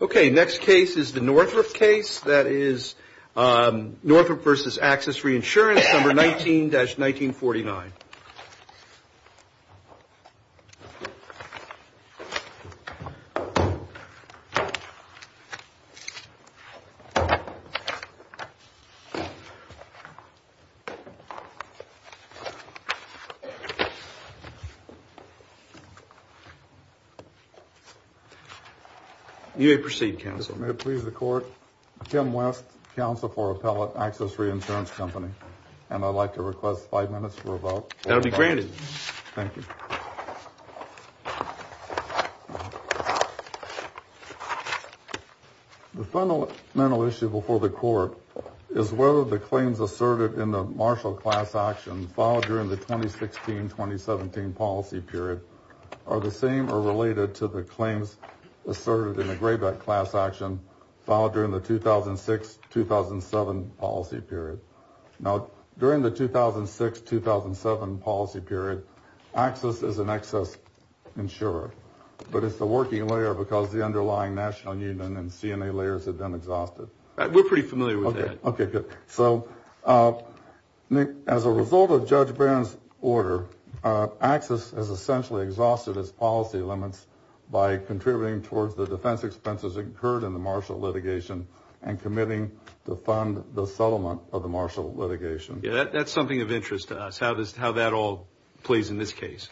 Okay. Next case is the Northrop case. That is Northrop v. AxisReinsurance, number 19-1949. You may proceed, Counsel. May it please the Court? Tim West, Counsel for Appellate AxisReinsuranceCompany. And I'd like to request five minutes for a vote. That'll be granted. Thank you. The fundamental issue before the Court is whether the claims asserted in the Marshall class action filed during the 2016-2017 policy period are the same or related to the claims asserted in the Grayback class action filed during the 2006-2007 policy period. Now, during the 2006-2007 policy period, Axis is an excess insurer, but it's the working layer because the underlying national union and CNA layers have been exhausted. We're pretty familiar with that. Okay, good. So, Nick, as a result of Judge Barron's order, Axis has essentially exhausted its policy limits by contributing towards the defense expenses incurred in the Marshall litigation and committing to fund the settlement of the Marshall litigation. Yeah, that's something of interest to us, how that all plays in this case.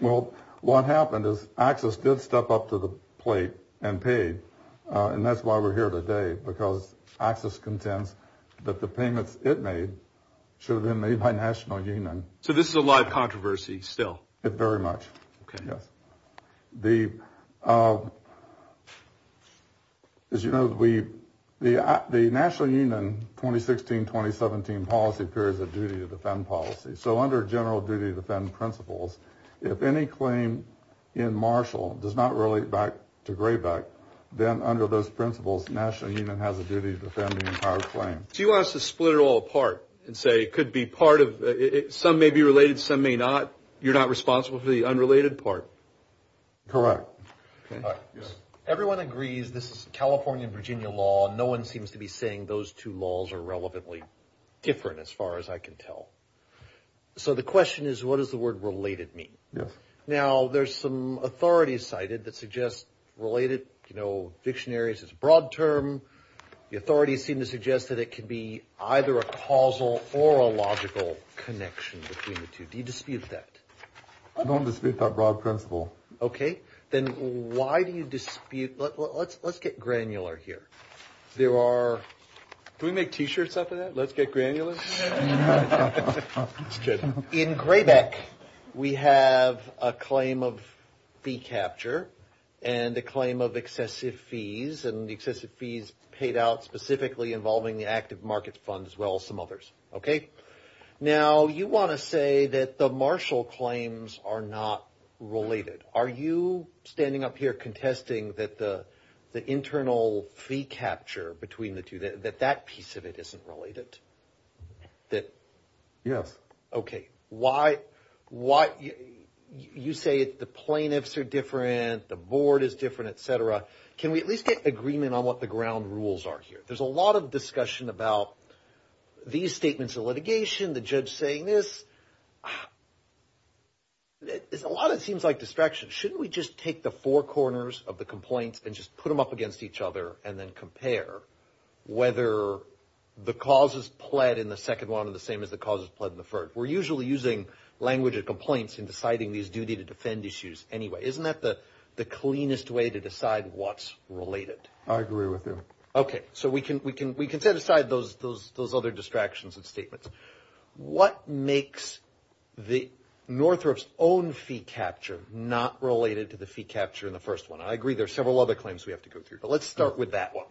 Well, what happened is Axis did step up to the plate and paid, and that's why we're here today, because Axis contends that the payments it made should have been made by national union. So this is a live controversy still? Very much. Okay. Yes. As you know, the national union 2016-2017 policy period is a duty to defend policy. So under general duty to defend principles, if any claim in Marshall does not relate back to Grayback, then under those principles, national union has a duty to defend the entire claim. So you want us to split it all apart and say it could be part of it. Some may be related, some may not. You're not responsible for the unrelated part? Correct. Okay. Yes. Everyone agrees this is California and Virginia law. No one seems to be saying those two laws are relevantly different as far as I can tell. So the question is, what does the word related mean? Yes. Now, there's some authorities cited that suggest related, you know, dictionaries is a broad term. The authorities seem to suggest that it could be either a causal or a logical connection between the two. Do you dispute that? I don't dispute that broad principle. Okay. Then why do you dispute – let's get granular here. There are – can we make T-shirts out of that? Let's get granular? Just kidding. In Grayback, we have a claim of fee capture and a claim of excessive fees, and the excessive fees paid out specifically involving the active market fund as well as some others. Okay? Now, you want to say that the Marshall claims are not related. Are you standing up here contesting that the internal fee capture between the two, that that piece of it isn't related? Yes. Okay. Why – you say the plaintiffs are different, the board is different, et cetera. Can we at least get agreement on what the ground rules are here? There's a lot of discussion about these statements of litigation, the judge saying this. There's a lot that seems like distractions. Shouldn't we just take the four corners of the complaints and just put them up against each other and then compare whether the causes pled in the second one are the same as the causes pled in the third? We're usually using language of complaints in deciding these duty-to-defend issues anyway. Isn't that the cleanest way to decide what's related? I agree with you. Okay. So we can set aside those other distractions and statements. What makes Northrop's own fee capture not related to the fee capture in the first one? I agree there are several other claims we have to go through, but let's start with that one.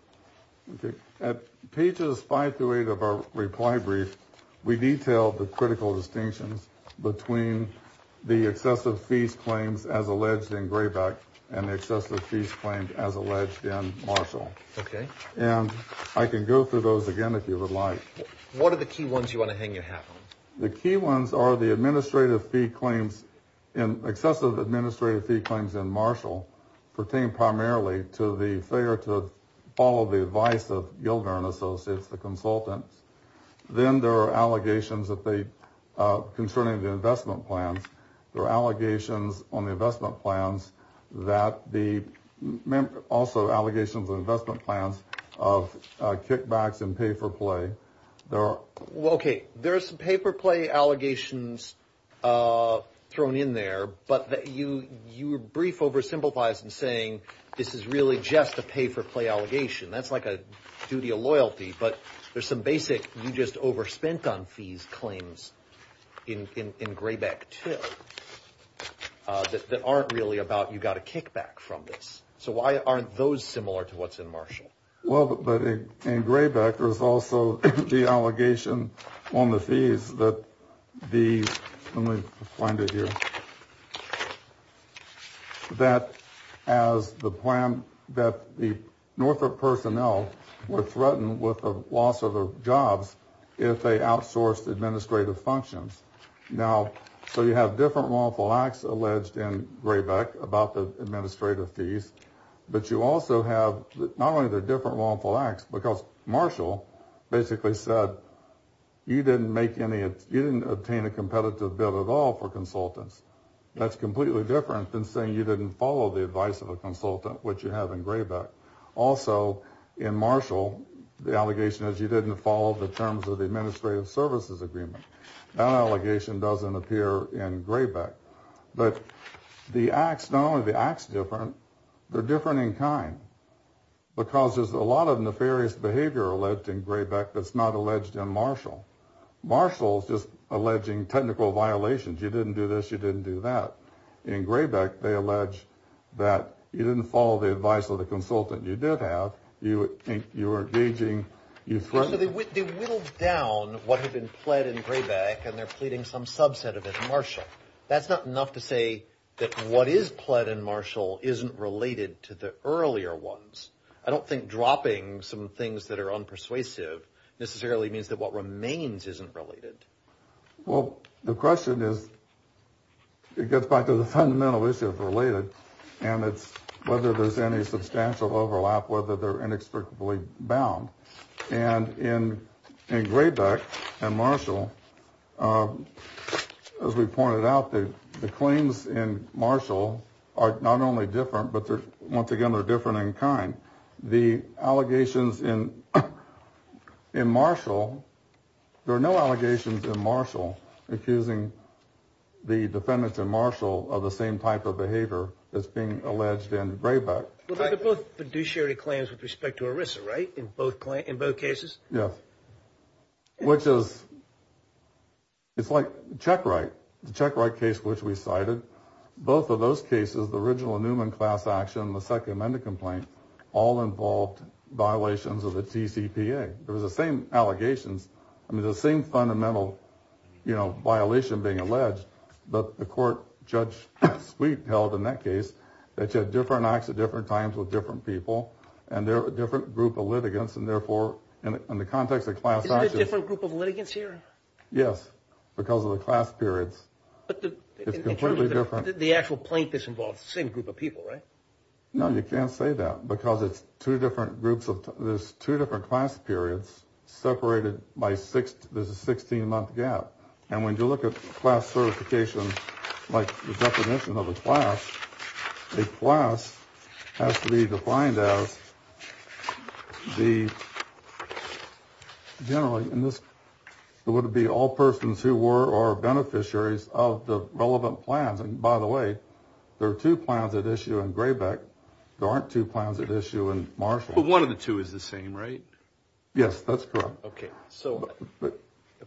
Okay. At pages five through eight of our reply brief, we detail the critical distinctions between the excessive fees claims as alleged in Grayback and the excessive fees claims as alleged in Marshall. Okay. And I can go through those again if you would like. What are the key ones you want to hang your hat on? The key ones are the excessive administrative fee claims in Marshall pertain primarily to the failure to follow the advice of Gilder and Associates, the consultants. Then there are allegations concerning the investment plans. There are allegations on the investment plans that the – also allegations on investment plans of kickbacks and pay-for-play. There are – Okay. There are some pay-for-play allegations thrown in there, but you brief oversimplifies in saying this is really just a pay-for-play allegation. That's like a duty of loyalty, but there's some basic you just overspent on fees claims in Grayback too that aren't really about you got a kickback from this. So why aren't those similar to what's in Marshall? Well, but in Grayback there's also the allegation on the fees that the – let me find it here – that as the plan – that the Norfolk personnel were threatened with the loss of their jobs if they outsourced administrative functions. Now, so you have different lawful acts alleged in Grayback about the administrative fees, but you also have not only the different lawful acts because Marshall basically said you didn't make any – you didn't obtain a competitive bill at all for consultants. That's completely different than saying you didn't follow the advice of a consultant, which you have in Grayback. Also, in Marshall, the allegation is you didn't follow the terms of the administrative services agreement. That allegation doesn't appear in Grayback. But the acts, not only are the acts different, they're different in kind because there's a lot of nefarious behavior alleged in Grayback that's not alleged in Marshall. Marshall's just alleging technical violations. You didn't do this. You didn't do that. In Grayback, they allege that you didn't follow the advice of the consultant. You did have. You were engaging. So they whittled down what had been pled in Grayback, and they're pleading some subset of it in Marshall. That's not enough to say that what is pled in Marshall isn't related to the earlier ones. I don't think dropping some things that are unpersuasive necessarily means that what remains isn't related. Well, the question is, it gets back to the fundamental issues related. And it's whether there's any substantial overlap, whether they're inexplicably bound. And in Grayback and Marshall, as we pointed out, the claims in Marshall are not only different, but once again, they're different in kind. The allegations in Marshall, there are no allegations in Marshall accusing the defendants in Marshall of the same type of behavior that's being alleged in Grayback. But they're both fiduciary claims with respect to ERISA, right? In both cases? Yes. Which is. It's like check, right? The check, right. Case which we cited both of those cases, the original Newman class action, the second amendment complaint, all involved violations of the TCPA. There was the same allegations. I mean, the same fundamental violation being alleged. But the court, Judge Sweet, held in that case that you had different acts at different times with different people. And they're a different group of litigants. And therefore, in the context of class actions. Is it a different group of litigants here? Yes. Because of the class periods. It's completely different. The actual plaintiffs involved the same group of people, right? No, you can't say that because it's two different groups. There's two different class periods separated by six. There's a 16-month gap. And when you look at class certification, like the definition of a class, a class has to be defined as the. Generally, in this, it would be all persons who were or beneficiaries of the relevant plans. And by the way, there are two plans at issue in Grayback. There aren't two plans at issue in Marshall. But one of the two is the same, right? Yes, that's correct. OK, so.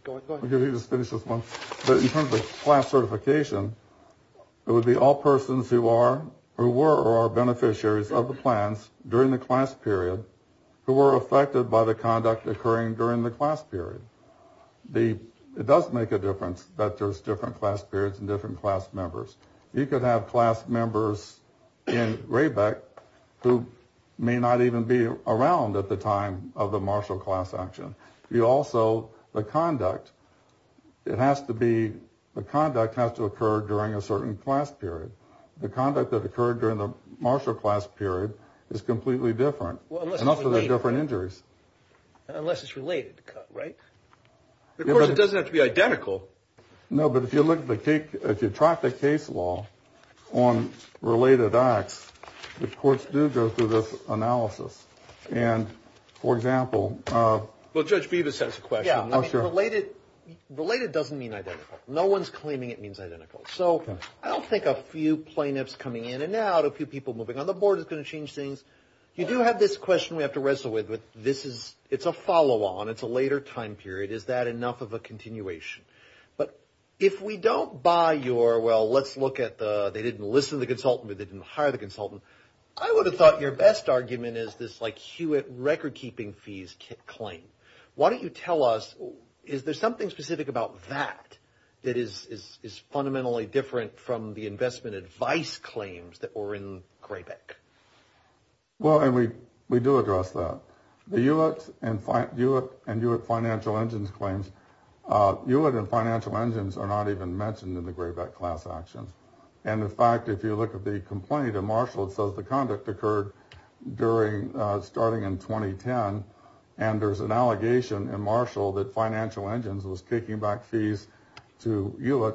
Go ahead, go ahead. Let me just finish this one. But in terms of class certification, it would be all persons who are or were or are beneficiaries of the plans during the class period. Who were affected by the conduct occurring during the class period. It does make a difference that there's different class periods and different class members. You could have class members in Rayback who may not even be around at the time of the Marshall class action. You also the conduct. It has to be the conduct has to occur during a certain class period. The conduct that occurred during the Marshall class period is completely different. And also there are different injuries. Unless it's related, right? It doesn't have to be identical. No, but if you look at the case, if you track the case law on related acts, the courts do go through this analysis. And for example. Well, Judge Bevis has a question. Related, related doesn't mean identical. No one's claiming it means identical. So I don't think a few plaintiffs coming in and out, a few people moving on the board is going to change things. You do have this question we have to wrestle with. This is it's a follow on. It's a later time period. Is that enough of a continuation? But if we don't buy your well, let's look at the they didn't listen to the consultant. They didn't hire the consultant. I would have thought your best argument is this like Hewitt record keeping fees claim. Why don't you tell us? Is there something specific about that that is fundamentally different from the investment advice claims that were in Greyback? Well, and we we do address that. The U.S. and U.S. and U.S. financial engines claims. You wouldn't financial engines are not even mentioned in the Greyback class actions. And in fact, if you look at the complaint of Marshall, it says the conduct occurred during starting in 2010. And there's an allegation in Marshall that financial engines was taking back fees to you.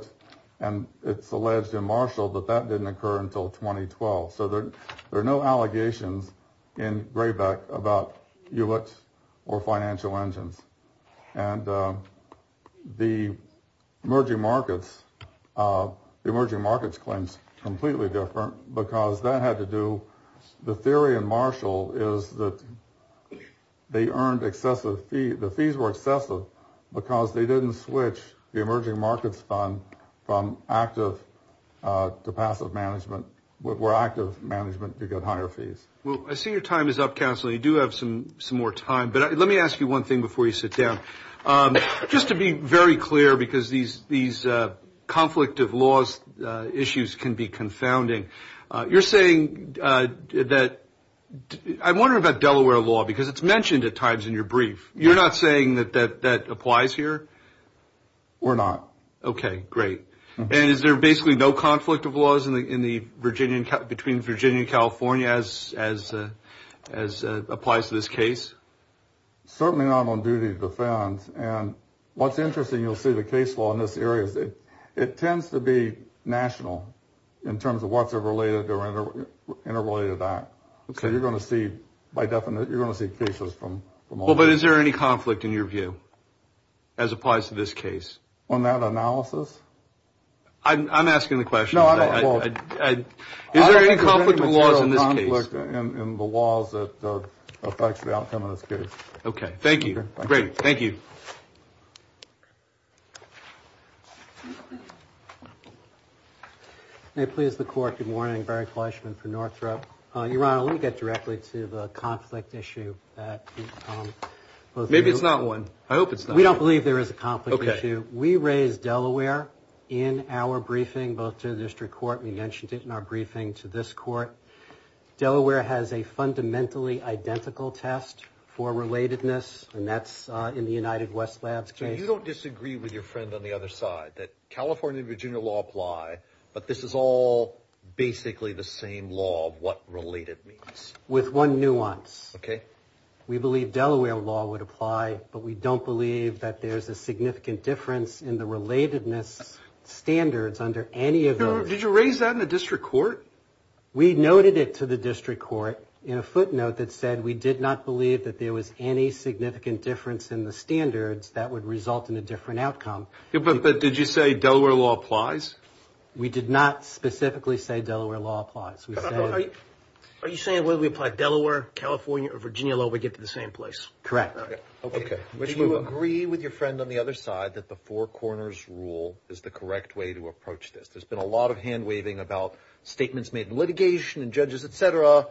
And it's alleged in Marshall that that didn't occur until 2012. So there are no allegations in Greyback about you or financial engines and the emerging markets, emerging markets claims completely different because that had to do. The theory in Marshall is that they earned excessive fee. The fees were excessive because they didn't switch the emerging markets fund from active to passive management. What were active management to get higher fees? Well, I see your time is up. Counsel, you do have some some more time. But let me ask you one thing before you sit down. Just to be very clear, because these these conflict of laws issues can be confounding. You're saying that I wonder about Delaware law because it's mentioned at times in your brief. You're not saying that that that applies here. We're not. OK, great. And is there basically no conflict of laws in the in the Virginia between Virginia and California as as as applies to this case? Certainly not on duty to defend. And what's interesting, you'll see the case law in this area. It tends to be national in terms of what's related or interrelated to that. So you're going to see by definition you're going to see cases from. But is there any conflict in your view as applies to this case? On that analysis? I'm asking the question. No, I don't. Is there any conflict of laws in this case? In the laws that affects the outcome of this case. OK, thank you. Great. Thank you. May it please the court. Good morning. Barry Fleischman for Northrop. Your Honor, let me get directly to the conflict issue. Maybe it's not one. I hope it's not. We don't believe there is a conflict issue. We raise Delaware in our briefing both to the district court. We mentioned it in our briefing to this court. Delaware has a fundamentally identical test for relatedness. And that's in the United West Labs case. You don't disagree with your friend on the other side that California and Virginia law apply. But this is all basically the same law of what related means. With one nuance. OK. We believe Delaware law would apply. But we don't believe that there's a significant difference in the relatedness standards under any of those. Did you raise that in the district court? We noted it to the district court in a footnote that said we did not believe that there was any significant difference in the standards that would result in a different outcome. But did you say Delaware law applies? We did not specifically say Delaware law applies. Are you saying whether we apply Delaware, California, or Virginia law, we get to the same place? Correct. OK. Do you agree with your friend on the other side that the four corners rule is the correct way to approach this? There's been a lot of hand-waving about statements made in litigation and judges, et cetera.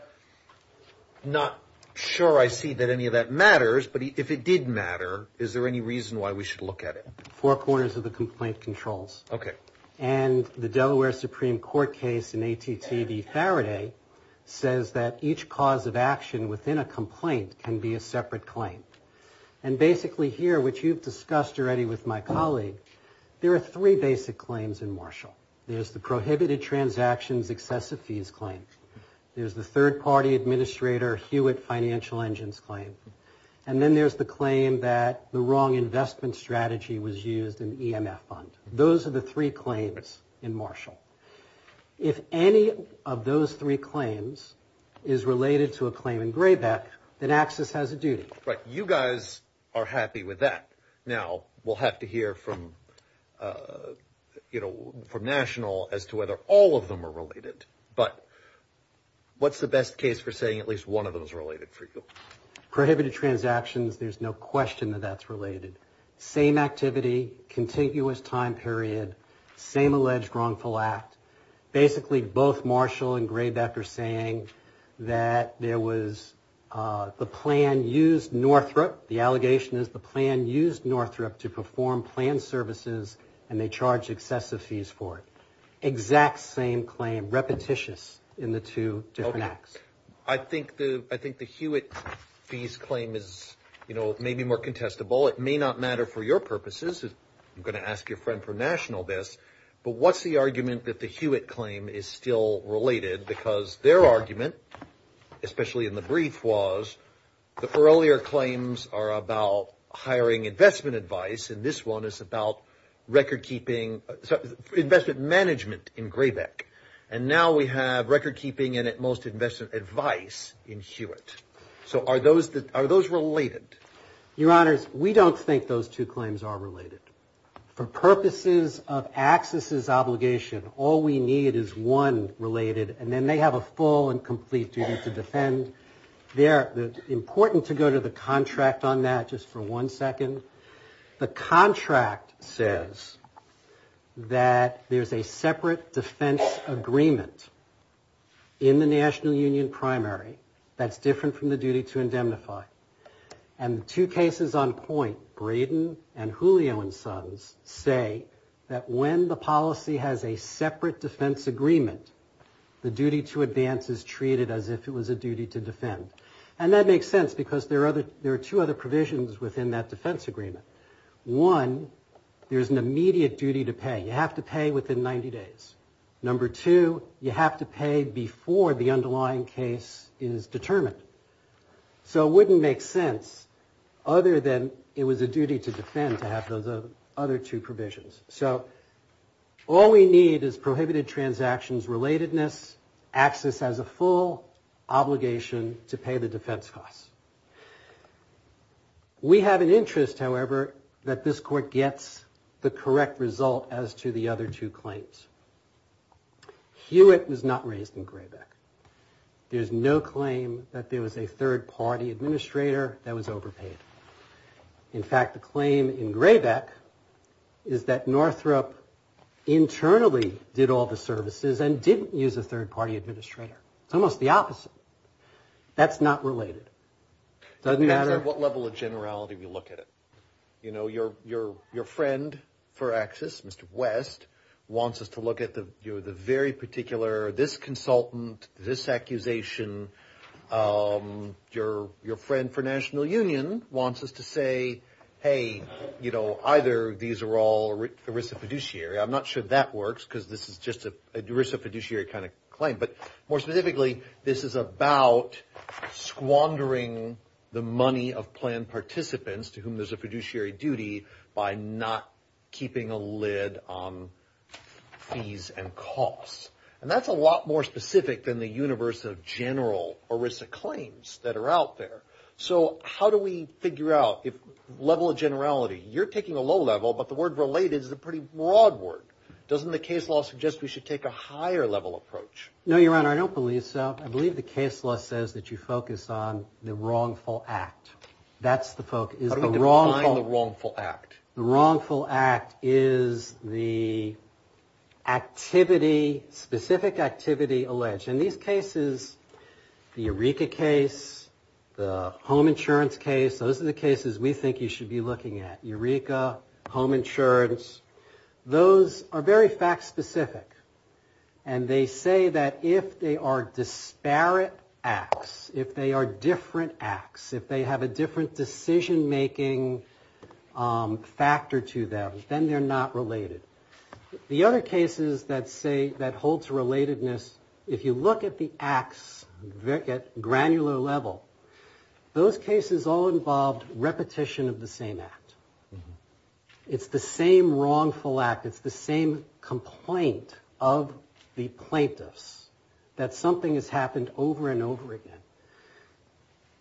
Not sure I see that any of that matters. But if it did matter, is there any reason why we should look at it? Four corners of the complaint controls. OK. And the Delaware Supreme Court case in ATTV Faraday says that each cause of action within a complaint can be a separate claim. And basically here, which you've discussed already with my colleague, there are three basic claims in Marshall. There's the prohibited transactions excessive fees claim. There's the third-party administrator Hewitt financial engines claim. And then there's the claim that the wrong investment strategy was used in the EMF fund. Those are the three claims in Marshall. If any of those three claims is related to a claim in Grayback, then Axis has a duty. Right. You guys are happy with that. Now, we'll have to hear from National as to whether all of them are related. But what's the best case for saying at least one of them is related for you? Prohibited transactions, there's no question that that's related. Same activity, contiguous time period, same alleged wrongful act. Basically, both Marshall and Grayback are saying that there was the plan used Northrop. The allegation is the plan used Northrop to perform plan services and they charged excessive fees for it. Exact same claim, repetitious in the two different acts. I think the I think the Hewitt fees claim is, you know, maybe more contestable. It may not matter for your purposes. I'm going to ask your friend for National this. But what's the argument that the Hewitt claim is still related? Because their argument, especially in the brief, was the earlier claims are about hiring investment advice. And this one is about record keeping investment management in Grayback. And now we have record keeping and at most investment advice in Hewitt. So are those are those related? Your honors, we don't think those two claims are related. For purposes of accesses obligation, all we need is one related and then they have a full and complete duty to defend. They're important to go to the contract on that just for one second. The contract says that there's a separate defense agreement in the National Union primary that's different from the duty to indemnify. And the two cases on point, Braden and Julio and Sons, say that when the policy has a separate defense agreement, the duty to advance is treated as if it was a duty to defend. And that makes sense because there are other there are two other provisions within that defense agreement. One, there is an immediate duty to pay. You have to pay within 90 days. Number two, you have to pay before the underlying case is determined. So it wouldn't make sense other than it was a duty to defend to have those other two provisions. So all we need is prohibited transactions relatedness. Access has a full obligation to pay the defense costs. We have an interest, however, that this court gets the correct result as to the other two claims. Hewitt was not raised in Grayback. There's no claim that there was a third-party administrator that was overpaid. In fact, the claim in Grayback is that Northrop internally did all the services and didn't use a third-party administrator. It's almost the opposite. That's not related. It doesn't matter what level of generality we look at it. You know, your friend for access, Mr. West, wants us to look at the very particular, this consultant, this accusation. Your friend for National Union wants us to say, hey, you know, either these are all ERISA fiduciary. I'm not sure that works because this is just an ERISA fiduciary kind of claim. But more specifically, this is about squandering the money of planned participants to whom there's a fiduciary duty by not keeping a lid on fees and costs. And that's a lot more specific than the universe of general ERISA claims that are out there. So how do we figure out if level of generality? You're taking a low level, but the word related is a pretty broad word. Doesn't the case law suggest we should take a higher level approach? No, Your Honor, I don't believe so. I believe the case law says that you focus on the wrongful act. That's the focus. How do we define the wrongful act? The wrongful act is the activity, specific activity alleged. In these cases, the Eureka case, the home insurance case, those are the cases we think you should be looking at. Eureka, home insurance. Those are very fact-specific. And they say that if they are disparate acts, if they are different acts, if they have a different decision-making factor to them, then they're not related. The other cases that hold to relatedness, if you look at the acts at granular level, those cases all involved repetition of the same act. It's the same wrongful act. It's the same complaint of the plaintiffs that something has happened over and over again.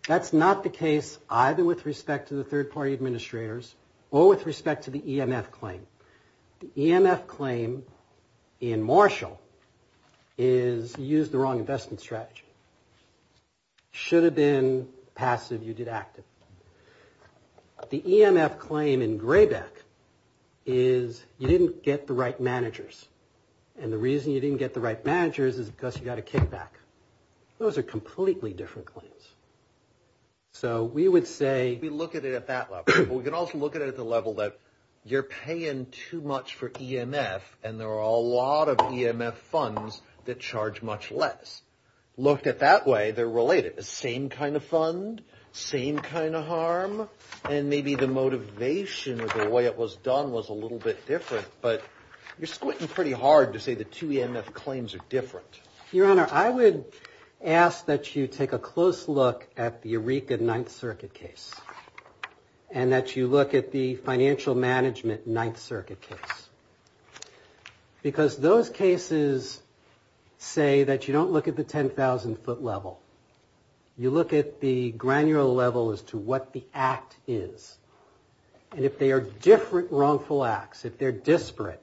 That's not the case either with respect to the third-party administrators or with respect to the EMF claim. The EMF claim in Marshall is you used the wrong investment strategy. Should have been passive, you did active. The EMF claim in Graybeck is you didn't get the right managers. And the reason you didn't get the right managers is because you got a kickback. Those are completely different claims. So we would say we look at it at that level. But we can also look at it at the level that you're paying too much for EMF, and there are a lot of EMF funds that charge much less. Looked at that way, they're related. You get the same kind of fund, same kind of harm, and maybe the motivation of the way it was done was a little bit different, but you're squinting pretty hard to say the two EMF claims are different. Your Honor, I would ask that you take a close look at the Eureka Ninth Circuit case and that you look at the financial management Ninth Circuit case. Because those cases say that you don't look at the 10,000-foot level. You look at the granular level as to what the act is. And if they are different wrongful acts, if they're disparate,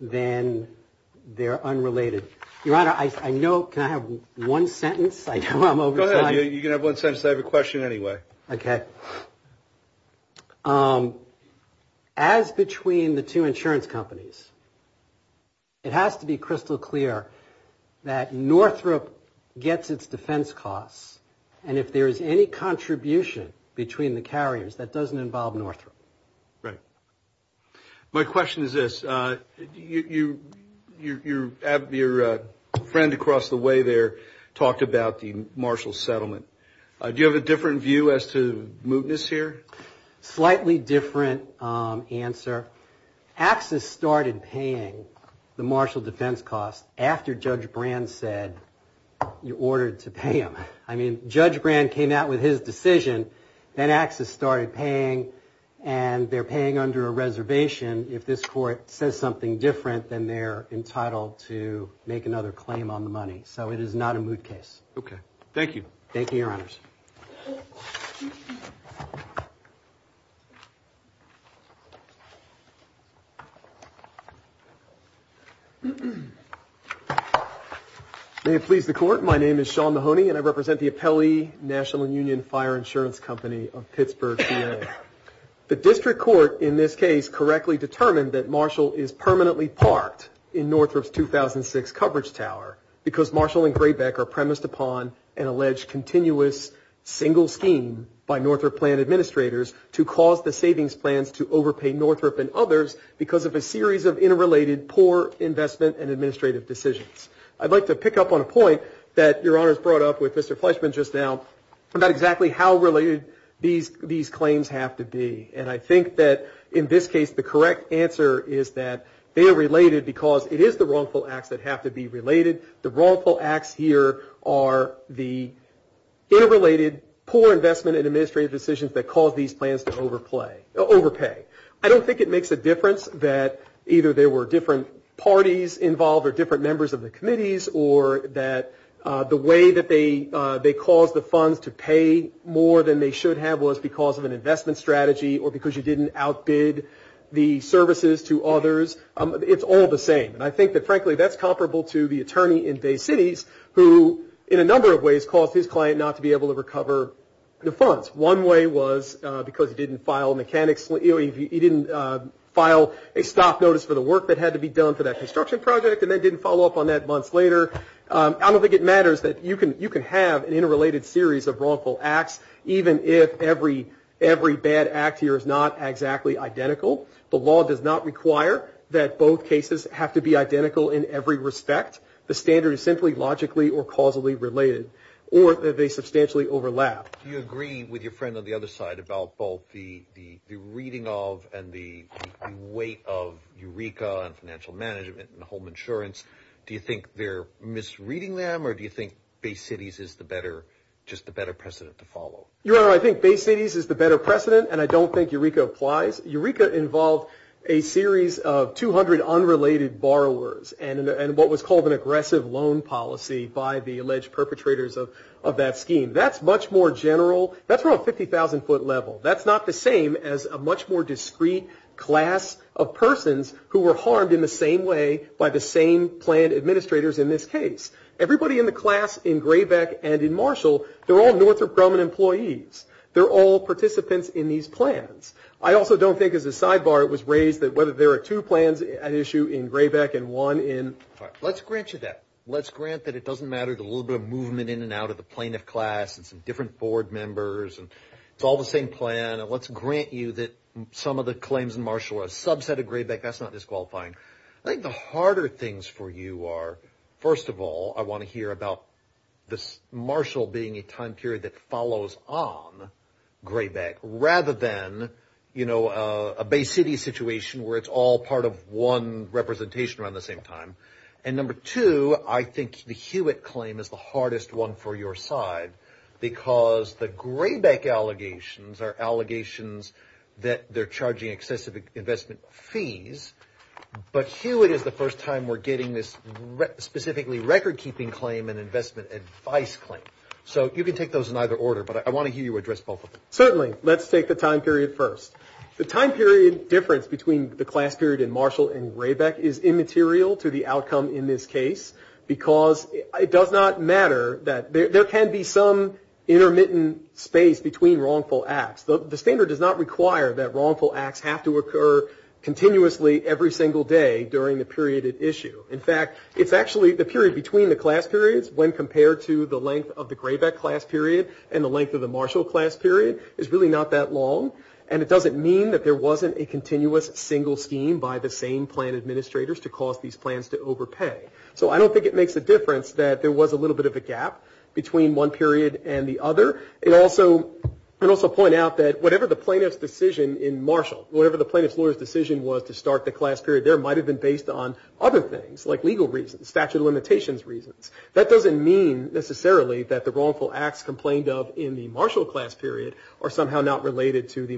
then they're unrelated. Your Honor, I know, can I have one sentence? I know I'm over time. Go ahead. You can have one sentence. I have a question anyway. Okay. As between the two insurance companies, it has to be crystal clear that Northrop gets its defense costs, and if there is any contribution between the carriers, that doesn't involve Northrop. Right. My question is this. Your friend across the way there talked about the Marshall Settlement. Do you have a different view as to mootness here? Slightly different answer. Axis started paying the Marshall defense costs after Judge Brand said you ordered to pay them. I mean, Judge Brand came out with his decision, then Axis started paying, and they're paying under a reservation if this court says something different than they're entitled to make another claim on the money. So it is not a moot case. Okay. Thank you. Thank you, Your Honors. May it please the Court, my name is Sean Mahoney, and I represent the Appellee National Union Fire Insurance Company of Pittsburgh, VA. The district court in this case correctly determined that Marshall is permanently parked in Northrop's 2006 coverage tower because Marshall and Graybeck are premised upon an alleged continuous single scheme by Northrop plan administrators to cause the savings plans to overpay Northrop and others because of a series of interrelated poor investment and administrative decisions. I'd like to pick up on a point that Your Honors brought up with Mr. Fleischman just now about exactly how related these claims have to be, and I think that in this case the correct answer is that they are related because it is the wrongful acts that have to be related. The wrongful acts here are the interrelated poor investment and administrative decisions that cause these plans to overpay. I don't think it makes a difference that either there were different parties involved or different members of the committees, or that the way that they caused the funds to pay more than they should have was because of an investment strategy or because you didn't outbid the services to others. It's all the same. And I think that, frankly, that's comparable to the attorney in Bay Cities who in a number of ways caused his client not to be able to recover the funds. One way was because he didn't file mechanics, he didn't file a stop notice for the work that had to be done for that construction project and then didn't follow up on that months later. I don't think it matters that you can have an interrelated series of wrongful acts even if every bad act here is not exactly identical. The law does not require that both cases have to be identical in every respect. The standard is simply logically or causally related or that they substantially overlap. Do you agree with your friend on the other side about both the reading of and the weight of Eureka and financial management and home insurance? Do you think they're misreading them, or do you think Bay Cities is just the better precedent to follow? Your Honor, I think Bay Cities is the better precedent, and I don't think Eureka applies. Eureka involved a series of 200 unrelated borrowers and what was called an aggressive loan policy by the alleged perpetrators of that scheme. That's much more general. That's from a 50,000-foot level. That's not the same as a much more discreet class of persons who were harmed in the same way by the same planned administrators in this case. Everybody in the class in Graybeck and in Marshall, they're all Northrop Grumman employees. They're all participants in these plans. I also don't think as a sidebar it was raised that whether there are two plans at issue in Graybeck and one in Marshall. Let's grant you that. Let's grant that it doesn't matter the little bit of movement in and out of the plaintiff class and some different board members, and it's all the same plan. Let's grant you that some of the claims in Marshall are a subset of Graybeck. That's not disqualifying. I think the harder things for you are, first of all, I want to hear about this Marshall being a time period that follows on Graybeck rather than a Bay City situation where it's all part of one representation around the same time. And number two, I think the Hewitt claim is the hardest one for your side because the Graybeck allegations are allegations that they're charging excessive investment fees, but Hewitt is the first time we're getting this specifically record-keeping claim and investment advice claim. So you can take those in either order, but I want to hear you address both of them. Certainly. Let's take the time period first. The time period difference between the class period in Marshall and Graybeck is immaterial to the outcome in this case because it does not matter that there can be some intermittent space between wrongful acts. The standard does not require that wrongful acts have to occur continuously every single day during the period at issue. In fact, it's actually the period between the class periods when compared to the length of the Graybeck class period and the length of the Marshall class period is really not that long, and it doesn't mean that there wasn't a continuous single scheme by the same plan administrators to cause these plans to overpay. So I don't think it makes a difference that there was a little bit of a gap between one period and the other. I'd also point out that whatever the plaintiff's decision in Marshall, whatever the plaintiff's lawyer's decision was to start the class period there, might have been based on other things like legal reasons, statute of limitations reasons. That doesn't mean necessarily that the wrongful acts complained of in the Marshall class period are somehow not related to the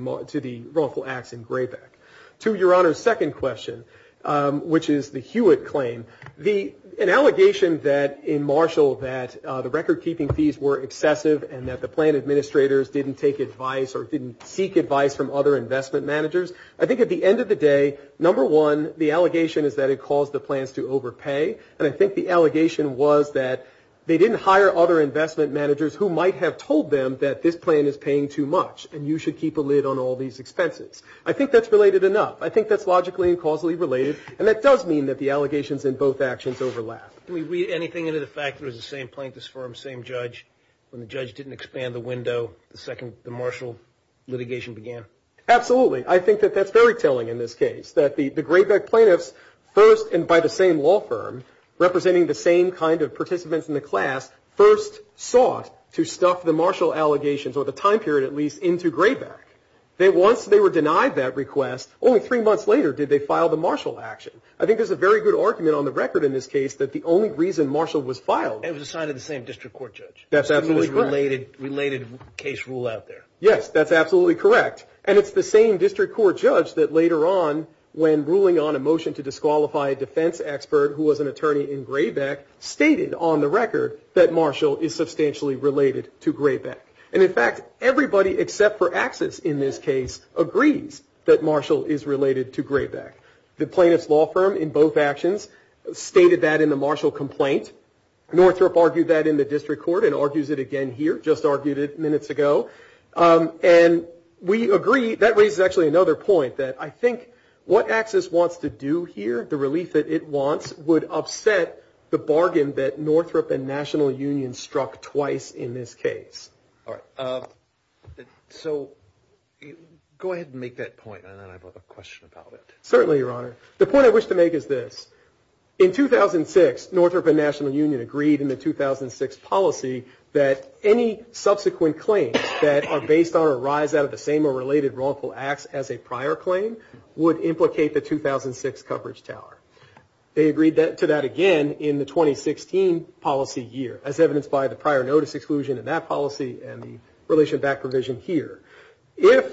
wrongful acts in Graybeck. To Your Honor's second question, which is the Hewitt claim, an allegation that in Marshall that the recordkeeping fees were excessive and that the plan administrators didn't take advice or didn't seek advice from other investment managers, I think at the end of the day, number one, the allegation is that it caused the plans to overpay, and I think the allegation was that they didn't hire other investment managers who might have told them that this plan is paying too much and you should keep a lid on all these expenses. I think that's related enough. I think that's logically and causally related, and that does mean that the allegations in both actions overlap. Can we read anything into the fact that it was the same plaintiff's firm, same judge, when the judge didn't expand the window the second the Marshall litigation began? Absolutely. I think that that's very telling in this case, that the Graybeck plaintiffs first, and by the same law firm, representing the same kind of participants in the class, first sought to stuff the Marshall allegations, or the time period at least, into Graybeck. Once they were denied that request, only three months later did they file the Marshall action. I think there's a very good argument on the record in this case that the only reason Marshall was filed It was assigned to the same district court judge. That's absolutely correct. Related case rule out there. Yes, that's absolutely correct, and it's the same district court judge that later on, when ruling on a motion to disqualify a defense expert who was an attorney in Graybeck, stated on the record that Marshall is substantially related to Graybeck. And in fact, everybody except for Axis in this case agrees that Marshall is related to Graybeck. The plaintiff's law firm in both actions stated that in the Marshall complaint. Northrop argued that in the district court and argues it again here. Just argued it minutes ago. And we agree. That raises actually another point that I think what Axis wants to do here, the relief that it wants, would upset the bargain that Northrop and National Union struck twice in this case. All right. So go ahead and make that point, and then I have a question about it. Certainly, Your Honor. The point I wish to make is this. In 2006, Northrop and National Union agreed in the 2006 policy that any subsequent claims that are based on or arise out of the same or related wrongful acts as a prior claim would implicate the 2006 coverage tower. They agreed to that again in the 2016 policy year, as evidenced by the prior notice exclusion in that policy and the relation back provision here. If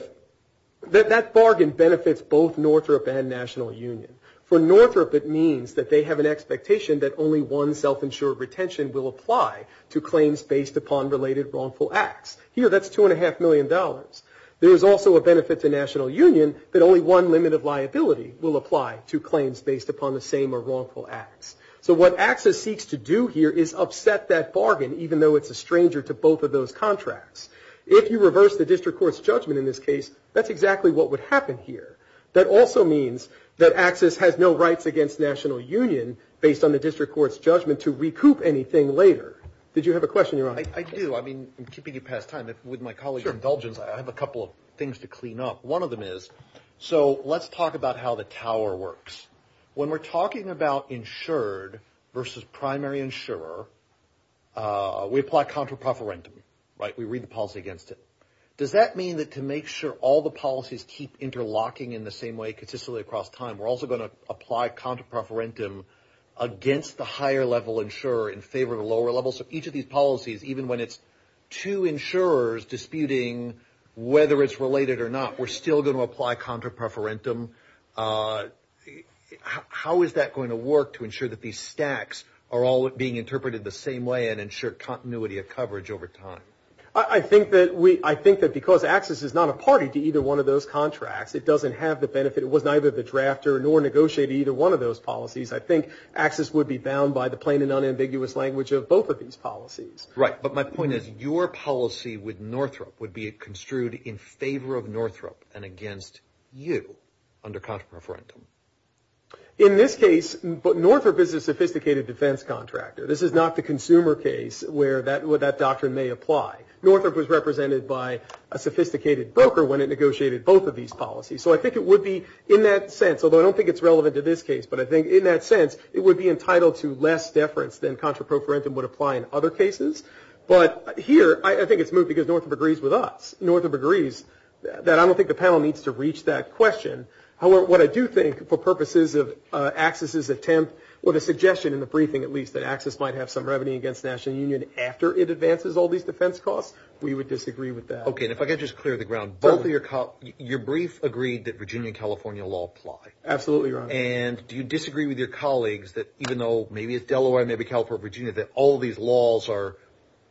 that bargain benefits both Northrop and National Union, for Northrop it means that they have an expectation that only one self-insured retention will apply to claims based upon related wrongful acts. Here, that's $2.5 million. There is also a benefit to National Union that only one limit of liability will apply to claims based upon the same or wrongful acts. So what Axis seeks to do here is upset that bargain, even though it's a stranger to both of those contracts. If you reverse the district court's judgment in this case, that's exactly what would happen here. That also means that Axis has no rights against National Union, based on the district court's judgment, to recoup anything later. Did you have a question? I do. I'm keeping you past time. With my colleague's indulgence, I have a couple of things to clean up. One of them is, so let's talk about how the tower works. When we're talking about insured versus primary insurer, we apply contra preferentum. We read the policy against it. Does that mean that to make sure all the policies keep interlocking in the same way consistently across time, we're also going to apply contra preferentum against the higher level insurer in favor of the lower level? So each of these policies, even when it's two insurers disputing whether it's related or not, we're still going to apply contra preferentum. How is that going to work to ensure that these stacks are all being interpreted the same way and ensure continuity of coverage over time? I think that because Axis is not a party to either one of those contracts, it doesn't have the benefit. It was neither the drafter nor negotiated either one of those policies. I think Axis would be bound by the plain and unambiguous language of both of these policies. Right, but my point is your policy with Northrop would be construed in favor of Northrop and against you under contra preferentum. In this case, Northrop is a sophisticated defense contractor. This is not the consumer case where that doctrine may apply. Northrop was represented by a sophisticated broker when it negotiated both of these policies. So I think it would be in that sense, although I don't think it's relevant to this case, but I think in that sense it would be entitled to less deference than contra preferentum would apply in other cases. But here I think it's moved because Northrop agrees with us. Northrop agrees that I don't think the panel needs to reach that question. However, what I do think for purposes of Axis's attempt or the suggestion in the briefing, at least, that Axis might have some revenue against the National Union after it advances all these defense costs, we would disagree with that. Okay, and if I could just clear the ground. Your brief agreed that Virginia and California law apply. Absolutely, Your Honor. And do you disagree with your colleagues that even though maybe it's Delaware, maybe California, Virginia, that all these laws are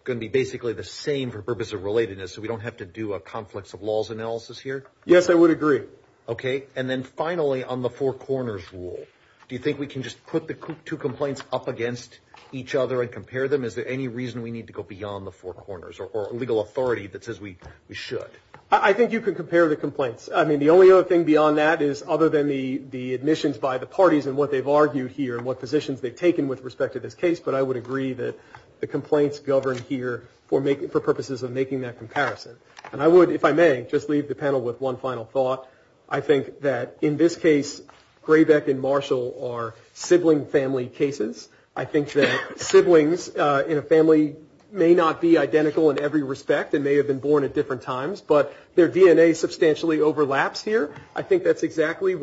going to be basically the same for purposes of relatedness so we don't have to do a conflicts of laws analysis here? Yes, I would agree. Okay, and then finally on the four corners rule, do you think we can just put the two complaints up against each other and compare them? Is there any reason we need to go beyond the four corners or legal authority that says we should? I think you can compare the complaints. I mean, the only other thing beyond that is other than the admissions by the parties and what they've argued here and what positions they've taken with respect to this case, but I would agree that the complaints govern here for purposes of making that comparison. And I would, if I may, just leave the panel with one final thought. I think that in this case, Graybeck and Marshall are sibling family cases. I think that siblings in a family may not be identical in every respect and may have been born at different times, but their DNA substantially overlaps here. I think that's exactly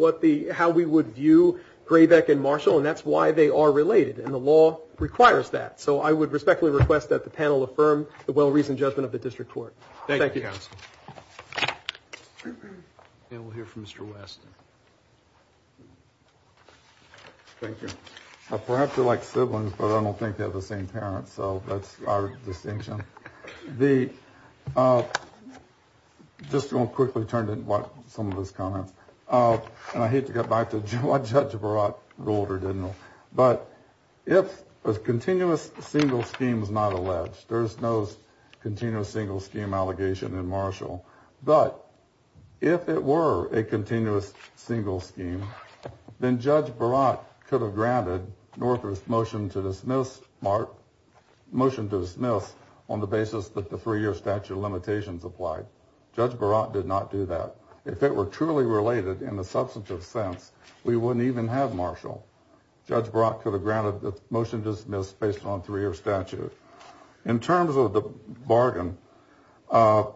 how we would view Graybeck and Marshall, and that's why they are related, and the law requires that. So I would respectfully request that the panel affirm the well-reasoned judgment of the district court. Thank you. Thank you, counsel. And we'll hear from Mr. West. Thank you. Perhaps they're like siblings, but I don't think they have the same parents, so that's our distinction. I'm just going to quickly turn to some of his comments, and I hate to get back to why Judge Baratt ruled or didn't rule, but if a continuous single scheme is not alleged, there's no continuous single scheme allegation in Marshall, but if it were a continuous single scheme, then Judge Baratt could have granted Northwest motion to dismiss on the basis that the three-year statute limitations applied. Judge Baratt did not do that. If it were truly related in the substantive sense, we wouldn't even have Marshall. Judge Baratt could have granted the motion dismissed based on three-year statute. In terms of the bargain, there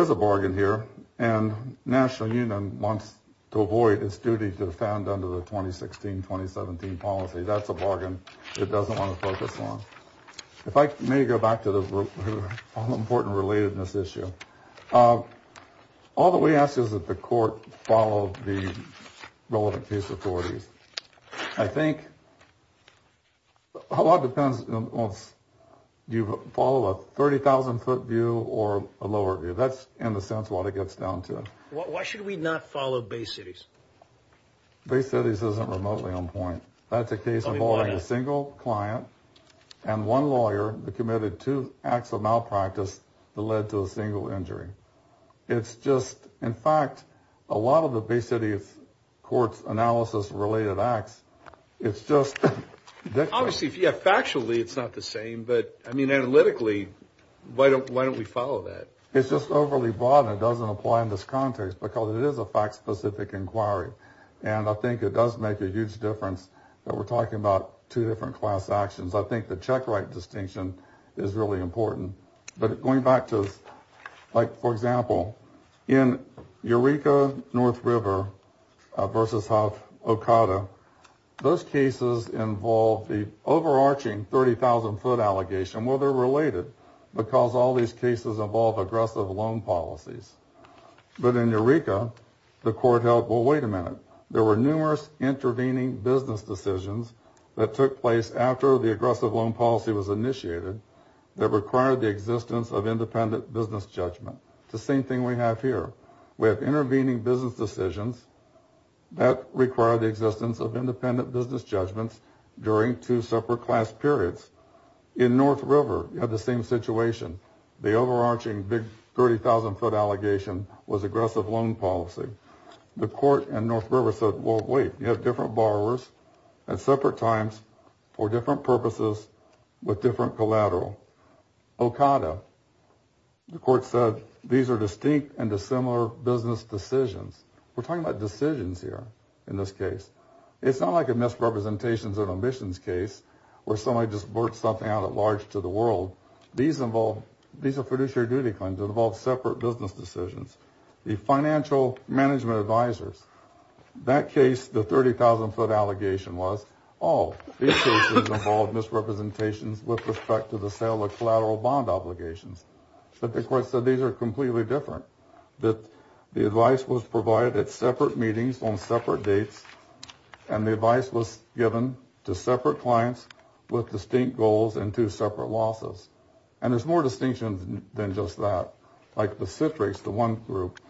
is a bargain here, and the National Union wants to avoid its duty to defend under the 2016-2017 policy. That's a bargain it doesn't want to focus on. If I may go back to the all-important relatedness issue, all that we ask is that the court follow the relevant case authorities. I think a lot depends on whether you follow a 30,000-foot view or a lower view. That's, in a sense, what it gets down to. Why should we not follow Bay Cities? Bay Cities isn't remotely on point. That's a case involving a single client and one lawyer that committed two acts of malpractice that led to a single injury. In fact, a lot of the Bay Cities court's analysis-related acts, it's just different. Obviously, factually, it's not the same, but analytically, why don't we follow that? It's just overly broad and doesn't apply in this context because it is a fact-specific inquiry, and I think it does make a huge difference that we're talking about two different class actions. I think the check-right distinction is really important. But going back to, like, for example, in Eureka North River v. Huff Okada, those cases involve the overarching 30,000-foot allegation. Well, they're related because all these cases involve aggressive loan policies. But in Eureka, the court held, well, wait a minute. There were numerous intervening business decisions that took place after the aggressive loan policy was initiated that required the existence of independent business judgment. It's the same thing we have here. We have intervening business decisions that require the existence of independent business judgments during two separate class periods. In North River, you have the same situation. The overarching big 30,000-foot allegation was aggressive loan policy. The court in North River said, well, wait. You have different borrowers at separate times for different purposes with different collateral. Okada, the court said, these are distinct and dissimilar business decisions. We're talking about decisions here in this case. It's not like a misrepresentations and omissions case where somebody just worked something out at large to the world. These are fiduciary duty claims that involve separate business decisions. The financial management advisors, that case, the 30,000-foot allegation was, oh, these cases involve misrepresentations with respect to the sale of collateral bond obligations. But the court said these are completely different, that the advice was provided at separate meetings on separate dates and the advice was given to separate clients with distinct goals and two separate losses. And there's more distinctions than just that. Like the Citrix, the one group,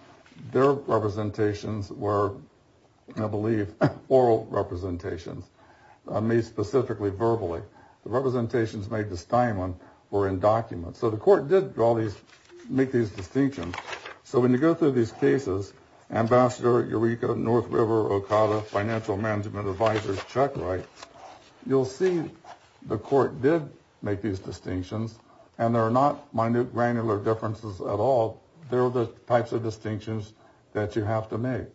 their representations were, I believe, oral representations, made specifically verbally. The representations made to Steinman were in documents. So the court did draw these, make these distinctions. So when you go through these cases, Ambassador, Eureka, North River, Okada, financial management advisors, check rights, you'll see the court did make these distinctions and there are not minute granular differences at all. There are the types of distinctions that you have to make.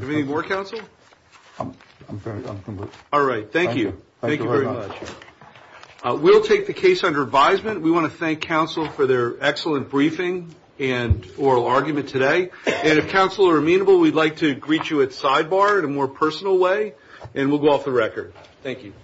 Do we need more counsel? I'm done. All right. Thank you. Thank you very much. We'll take the case under advisement. We want to thank counsel for their excellent briefing and oral argument today. And if counsel are amenable, we'd like to greet you at sidebar in a more personal way and we'll go off the record. Thank you.